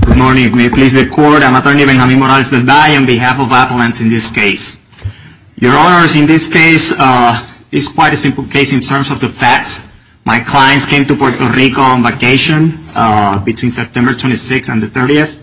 Good morning. May it please the Court, I'm attorney Benjamin Morales Del Valle on behalf of Appalachians in this case. Your Honors, in this case, it's quite a simple case in terms of the facts. My clients came to Puerto Rico on vacation between September 26th and the 30th,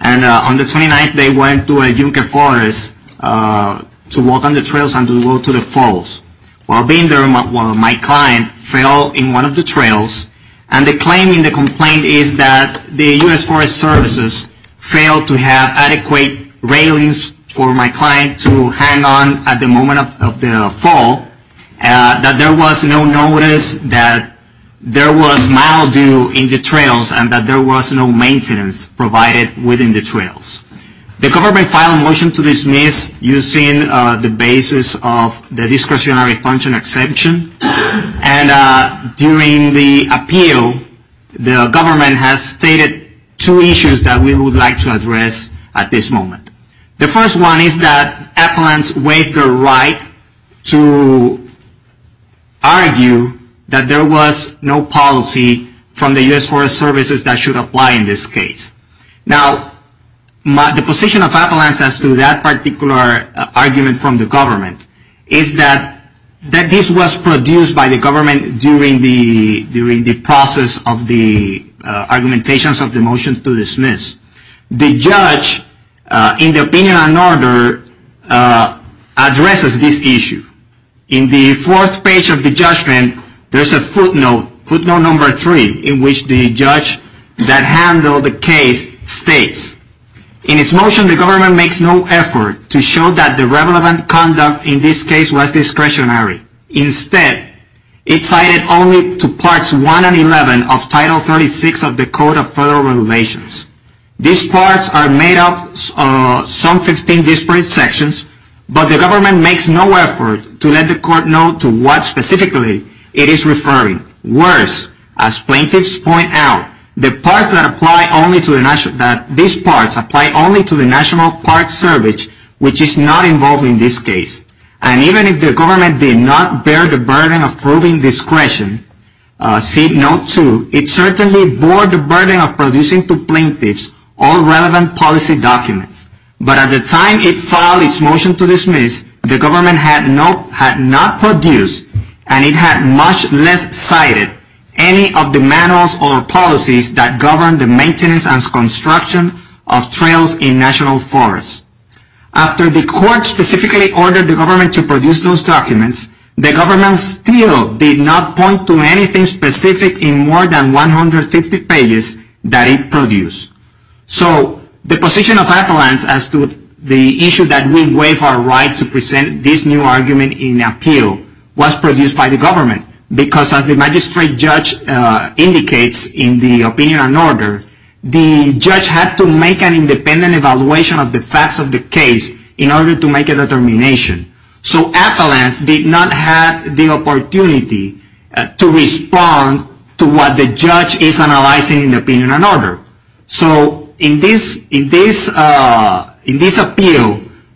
and on the 29th they went to a Yucca forest to walk on the trails and to go to the falls. While being there, my client fell in one of the trails, and the claim in the complaint is that the U.S. Forest Service failed to have adequate railings for my client to hang on at the moment of the fall, that there was no notice that there was mildew in the trails, and that there was no maintenance provided within the trails. The government filed a motion to dismiss using the basis of the discretionary function exception, and during the appeal, the government has stated two issues that we would like to address at this moment. The first one is that Appalachians waived their right to argue that there was no policy from the U.S. Forest Service that should apply in this case. Now, the position of Appalachians as to that particular argument from the government is that this was produced by the government during the process of the argumentations of the motion to dismiss. The judge, in the opinion and order, addresses this issue. In the fourth page of the judgment, there is a footnote, footnote number three, in which the judge that handled the case states, in its motion, the government makes no effort to show that the relevant conduct in this case was discretionary. Instead, it cited only to Parts 1 and 11 of Title 36 of the Code of Federal Relations. These parts are made up of some 15 disparate sections, but the government makes no effort to let the Court know to what specifically it is referring. Worse, as plaintiffs point out, the parts that apply only to the National Parts Service, which is not involved in this case. And even if the government did not bear the burden of proving discretion, seat note two, it certainly bore the burden of producing to plaintiffs all relevant policy documents. But at the time it filed its motion to dismiss, the government had not produced, and it had much less cited, any of the manuals or policies that govern the maintenance and construction of trails in national forests. After the Court specifically ordered the government to produce those documents, the government still did not point to anything specific in more than 150 pages that it produced. So the position of appellants as to the issue that we waive our right to present this new argument in appeal was produced by the government, because as the magistrate judge indicates in the opinion and order, the judge had to make an independent evaluation of the facts of the case in order to make a determination. So appellants did not have the opportunity to respond to what the judge is analyzing in the opinion and order. So in this appeal,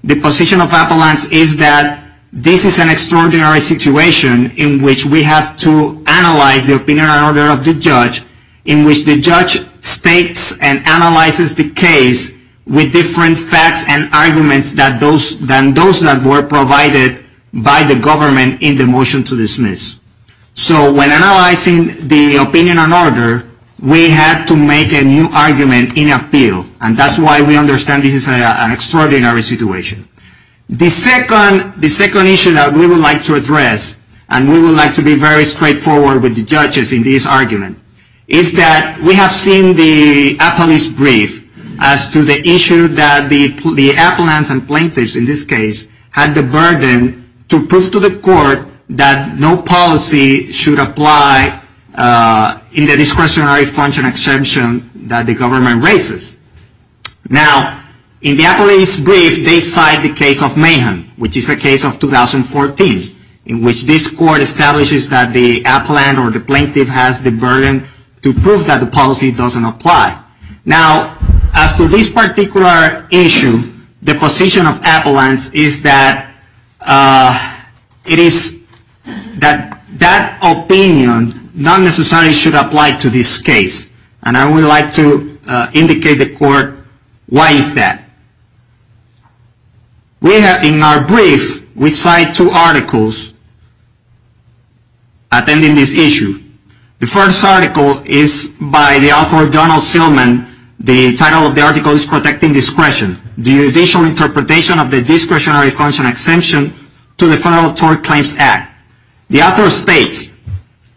the position of appellants is that this is an extraordinary situation in which we have to analyze the opinion and order of the judge, in which the judge states and analyzes the case with different facts and arguments than those that were provided by the government in the motion to dismiss. So when analyzing the opinion and order, we had to make a new argument in appeal, and that's why we understand this is an extraordinary situation. The second issue that we would like to address, and we would like to be very straightforward with the judges in this argument, is that we have seen the appellate's brief as to the appellants and plaintiffs in this case had the burden to prove to the court that no policy should apply in the discretionary function exemption that the government raises. Now in the appellate's brief, they cite the case of Mayhem, which is a case of 2014, in which this court establishes that the appellant or the plaintiff has the burden to prove that the policy doesn't apply. Now, as to this particular issue, the position of appellants is that that opinion not necessarily should apply to this case, and I would like to indicate the court why is that. In our brief, we cite two articles attending this issue. The first article is by the court and the second article is by the author, Donald Sillman. The title of the article is Protecting Discretion, the Judicial Interpretation of the Discretionary Function Exemption to the Federal Tort Claims Act. The author states,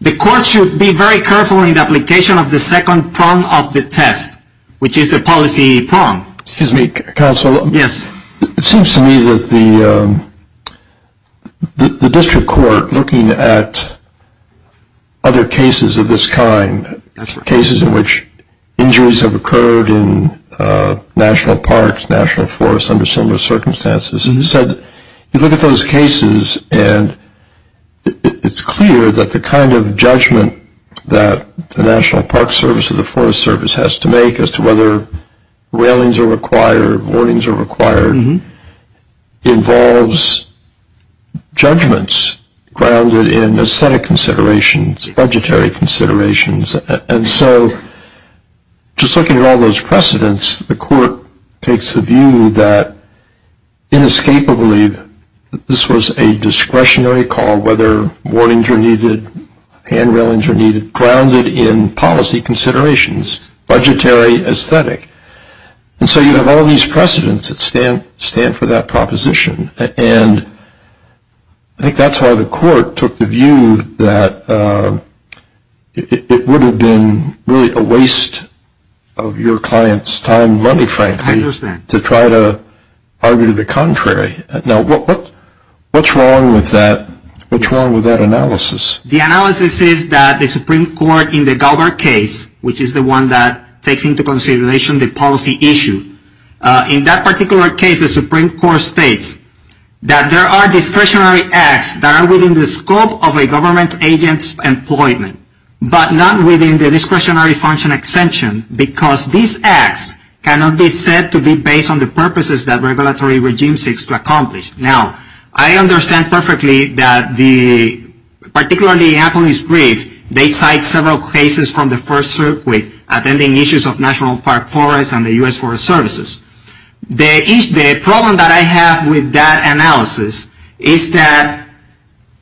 the court should be very careful in the application of the second prong of the test, which is the policy prong. Excuse me, counsel. Yes. It seems to me that the district court, looking at other cases of this kind, cases in which injuries have occurred in national parks, national forests, under similar circumstances, has said, you look at those cases and it's clear that the kind of judgment that the National Park Service or the Forest Service has to make as to whether railings are required, warnings are required, involves judgments grounded in aesthetic considerations, budgetary considerations. And so just looking at all those precedents, the court takes the view that inescapably that this was a discretionary call, whether warnings are needed, hand railings are needed, grounded in policy considerations, budgetary aesthetic. And so you have all these precedents that stand for that proposition. And I think that's why the court took the view that it would have been really a waste of your client's time and money, frankly, to try to argue the contrary. Now, what's wrong with that analysis? The analysis is that the Supreme Court in the Galbar case, which is the one that takes into consideration the policy issue, in that particular case, the Supreme Court states that there are discretionary acts that are within the scope of a government agent's employment, but not within the discretionary function exemption, because these acts cannot be said to be based on the purposes that regulatory regime seeks to accomplish. Now, I understand perfectly that the, particularly in Apple's brief, they cite several cases from the first circuit, attending issues of National Park Forests and the U.S. Forest Services. The problem that I have with that analysis is that,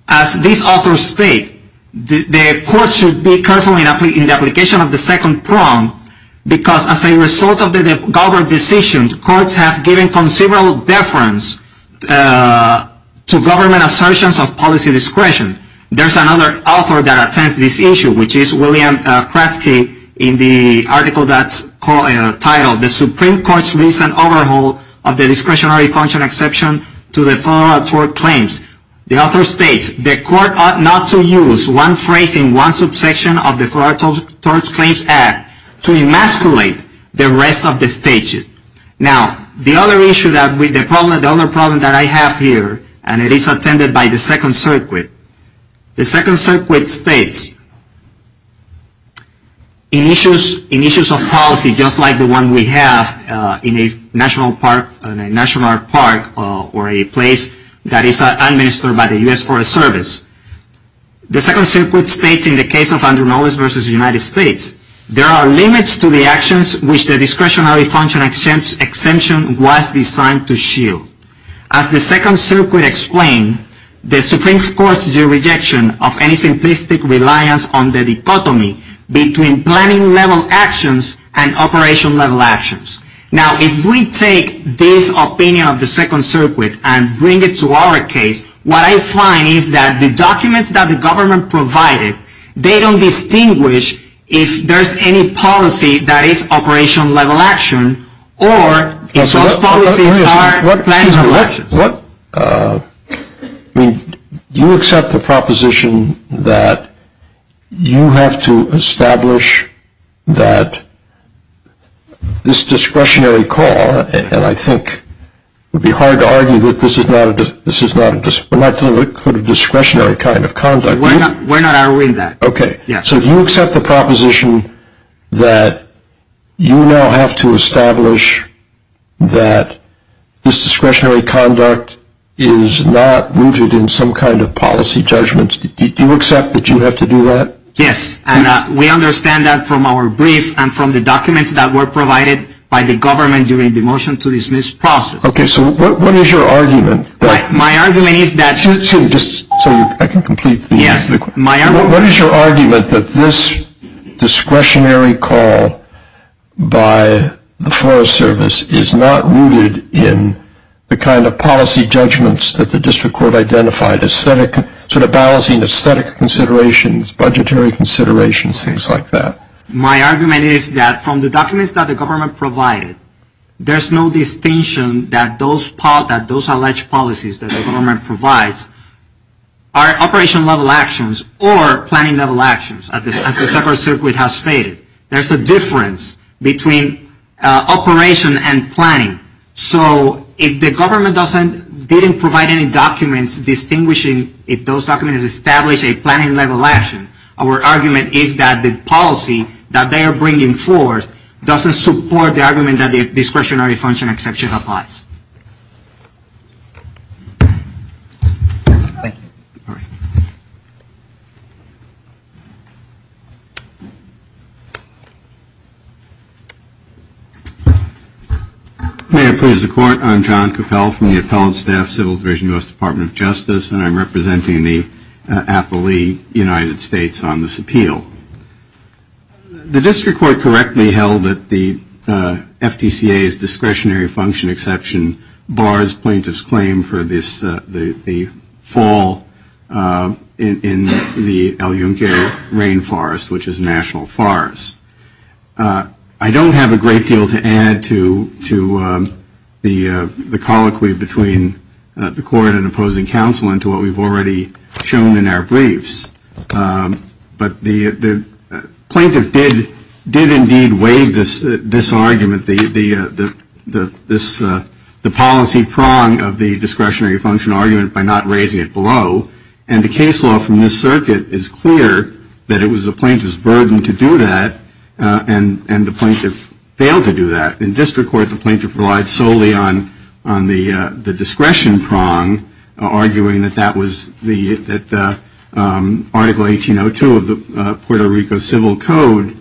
as these authors state, the court should be careful in the application of the second prong, because as a result of the Galbar decision, courts have given considerable deference to government assertions of policy discretion. There's another author that attends this issue, which is William Kratzke, in the title, The Supreme Court's Recent Overhaul of the Discretionary Function Exemption to the Federal Tort Claims. The author states, the court ought not to use one phrase in one subsection of the Federal Tort Claims Act to emasculate the rest of the stages. Now, the other issue that, the other problem that I have here, and it is attended by the second circuit, the second circuit states, in issues of policy discretionary action, policy just like the one we have in a National Park or a place that is administered by the U.S. Forest Service, the second circuit states, in the case of Andrew Mullis v. United States, there are limits to the actions which the discretionary function exemption was designed to shield. As the second circuit explained, the Supreme Court's rejection of any simplistic reliance on the dichotomy between planning-level actions and operation-level actions. Now, if we take this opinion of the second circuit and bring it to our case, what I find is that the documents that the government provided, they don't distinguish if there's any policy that is operation-level action or if those policies are planning-level actions. What, I mean, do you accept the proposition that you have to establish that this discretionary call, and I think it would be hard to argue that this is not a discretionary kind of conduct. We're not arguing that. Okay, so do you accept the proposition that you now have to establish that this discretionary conduct is not rooted in some kind of policy judgments? Do you accept that you have to do that? Yes, and we understand that from our brief and from the documents that were provided by the government during the motion to dismiss process. Okay, so what is your argument? My argument is that Just so I can complete the question. What is your argument that this discretionary call by the Forest Service is not rooted in the kind of policy judgments that the District Court identified, sort of balancing aesthetic considerations, budgetary considerations, things like that? My argument is that from the documents that the government provided, there's no distinction that those alleged policies that the government provides are operation-level actions or planning-level actions, as the second circuit has stated. There's a difference between operation and planning. So if the government didn't provide any documents distinguishing if those documents establish a planning-level action, our argument is that the policy that they are bringing forth doesn't support the argument that the discretionary function exception applies. Thank you. May I please the Court? I'm John Cappell from the Appellate Staff Civil Division, U.S. Department of Justice, and I'm representing the Appellee United States on this appeal. The District Court correctly held that the FDCA's discretionary function exception bars plaintiffs' claim for the fall in the El Yunque Rainforest, which is a national forest. I don't have a great deal to add to the colloquy between the Court and opposing counsel and to what we've already shown in our briefs, but the plaintiff did indeed waive this argument, the policy prong of the discretionary function argument by not raising it below, and the plaintiff failed to do that. In District Court, the plaintiff relied solely on the discretion prong, arguing that that was the Article 1802 of the Puerto Rico Civil Code,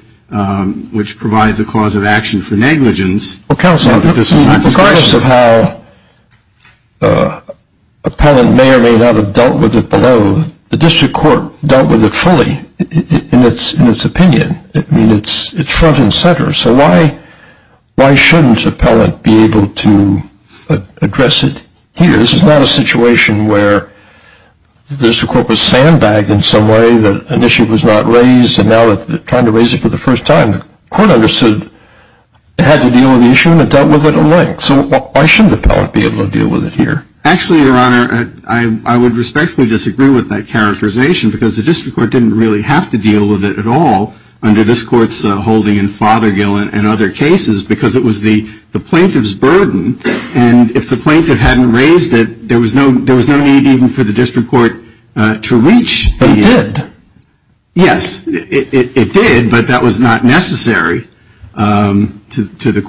which provides a cause of action for negligence. Well, counsel, regardless of how appellant may or may not have dealt with it below, the District Court was front and center, so why shouldn't appellant be able to address it here? This is not a situation where the District Court was sandbagged in some way that an issue was not raised, and now that they're trying to raise it for the first time, the Court understood it had to deal with the issue and it dealt with it at length. So why shouldn't appellant be able to deal with it here? Actually, Your Honor, I would respectfully disagree with that characterization because the District Court didn't really have to deal with it at all under this Court's holding in Fothergill and other cases because it was the plaintiff's burden, and if the plaintiff hadn't raised it, there was no need even for the District Court to reach the end. But it did. Yes, it did, but that was not necessary to the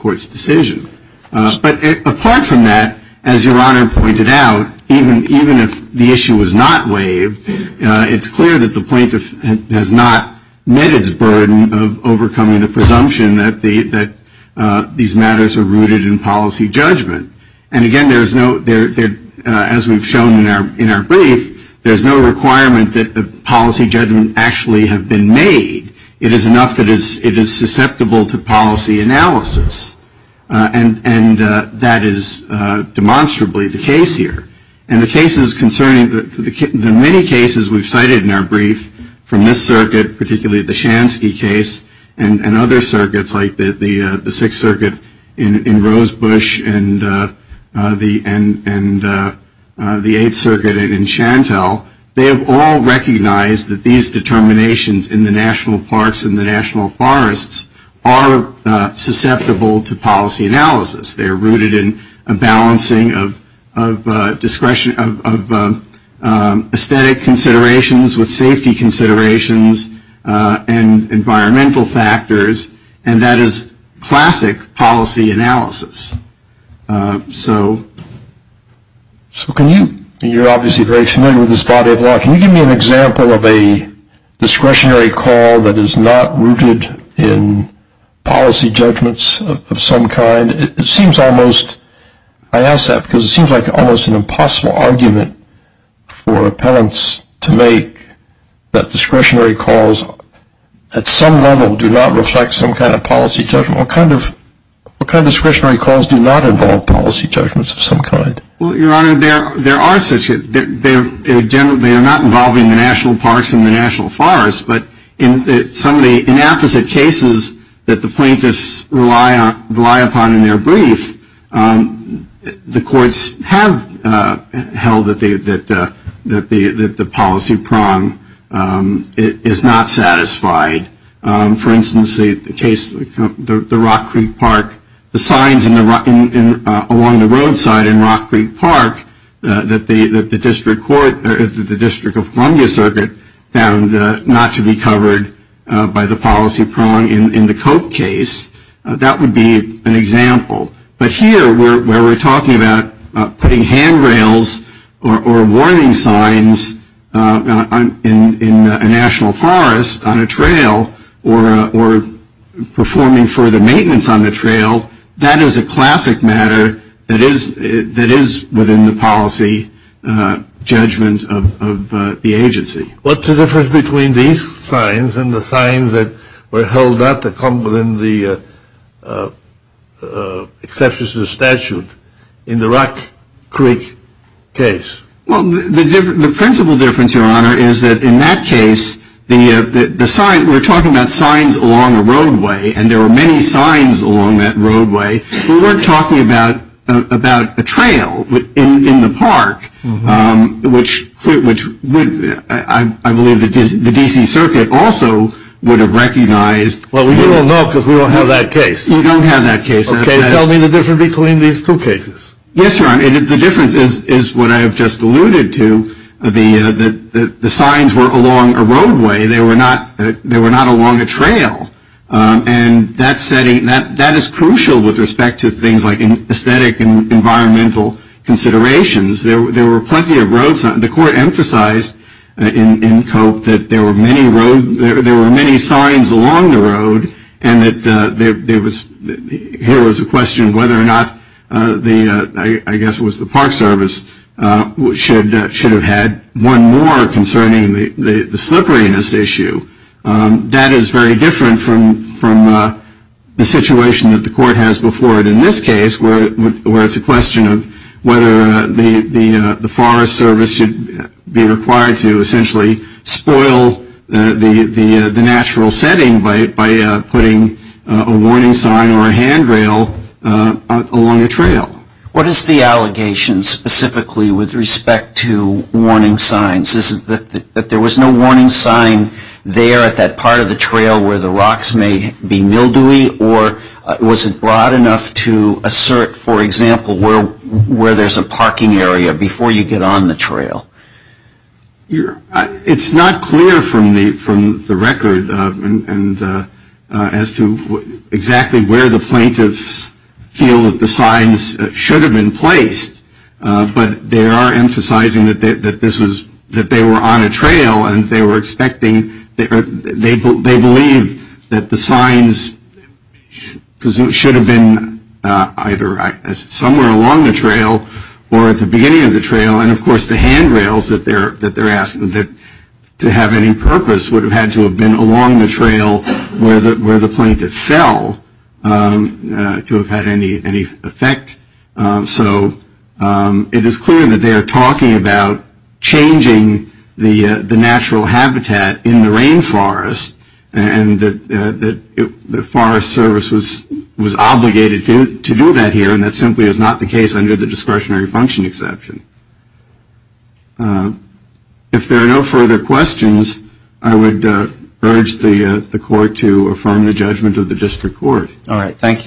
Court's decision. But apart from that, as Your Honor pointed out, even if the issue was not waived, it's clear that the plaintiff has not met its burden of overcoming the presumption that these matters are rooted in policy judgment. And again, as we've shown in our brief, there's no requirement that the policy judgment actually have been made. It is enough that it is susceptible to policy analysis, and that is debatable and demonstrably the case here. And the cases concerning the many cases we've cited in our brief from this circuit, particularly the Shansky case and other circuits like the Sixth Circuit in Rosebush and the Eighth Circuit in Chantel, they have all recognized that these determinations in the national parks and the national forests are susceptible to policy analysis. They are rooted in a balancing of aesthetic considerations with safety considerations and environmental factors, and that is classic policy analysis. So you're obviously very familiar with this body of law. Can you give me an example of a discretionary call that is not rooted in policy judgments of some kind? It seems almost – I ask that because it seems like almost an impossible argument for appellants to make that discretionary calls at some level do not reflect some kind of policy judgment. What kind of discretionary calls do not involve policy judgments of some kind? Well, Your Honor, there are such – they are not involving the national parks and the national forests, but in some of the inapposite cases that the plaintiffs rely upon in their brief, the courts have held that the policy prong is not satisfied. For instance, the Rock Creek Park – the signs along the roadside in Rock Creek Park that the District Court – the District of Columbia Circuit found not to be covered by the policy prong in the Cope case, that would be an example. But here, where we're talking about putting handrails or warning signs in a national forest on a trail or performing further activities in maintenance on a trail, that is a classic matter that is within the policy judgment of the agency. What's the difference between these signs and the signs that were held up that come within the exceptions to the statute in the Rock Creek case? Well, the principle difference, Your Honor, is that in that case, the sign – we're talking about many signs along that roadway. We weren't talking about a trail in the park, which would – I believe the D.C. Circuit also would have recognized. Well, we don't know because we don't have that case. We don't have that case. Okay. Tell me the difference between these two cases. Yes, Your Honor. The difference is what I have just alluded to. The signs were along a roadway. They were not along a trail. And that setting – that is crucial with respect to things like aesthetic and environmental considerations. There were plenty of roads – the Court emphasized in Cope that there were many roads – there were many signs along the road and that there was – here was a question whether or not the – I guess it was the Park Service – should have had one more concerning the slipperiness issue. That is very different from the situation that the Court has before it in this case, where it's a question of whether the Forest Service should be required to essentially spoil the natural setting by putting a warning sign or a handrail along a trail. What is the allegation specifically with respect to warning signs? Is it that there was no warning sign there at that part of the trail where the rocks may be mildewy or was it broad enough to assert, for example, where there's a parking area before you get on the trail? It's not clear from the record as to exactly where the plaintiffs feel that the signs should have been placed, but they are emphasizing that this was – that they were on a trail and they were expecting – they believe that the signs should have been either somewhere along the trail or at the beginning of the trail. And, of course, the handrails that they're asking to have any purpose would have had to have been along the trail where the plaintiff fell to have had any effect. So it is clear that they are talking about changing the natural habitat in the rainforest and that the Forest Service was obligated to do that here and that simply is not the case under the discretionary function exception. If there are no further questions, I would urge the Court to affirm the judgment of the District Court. All right. Thank you.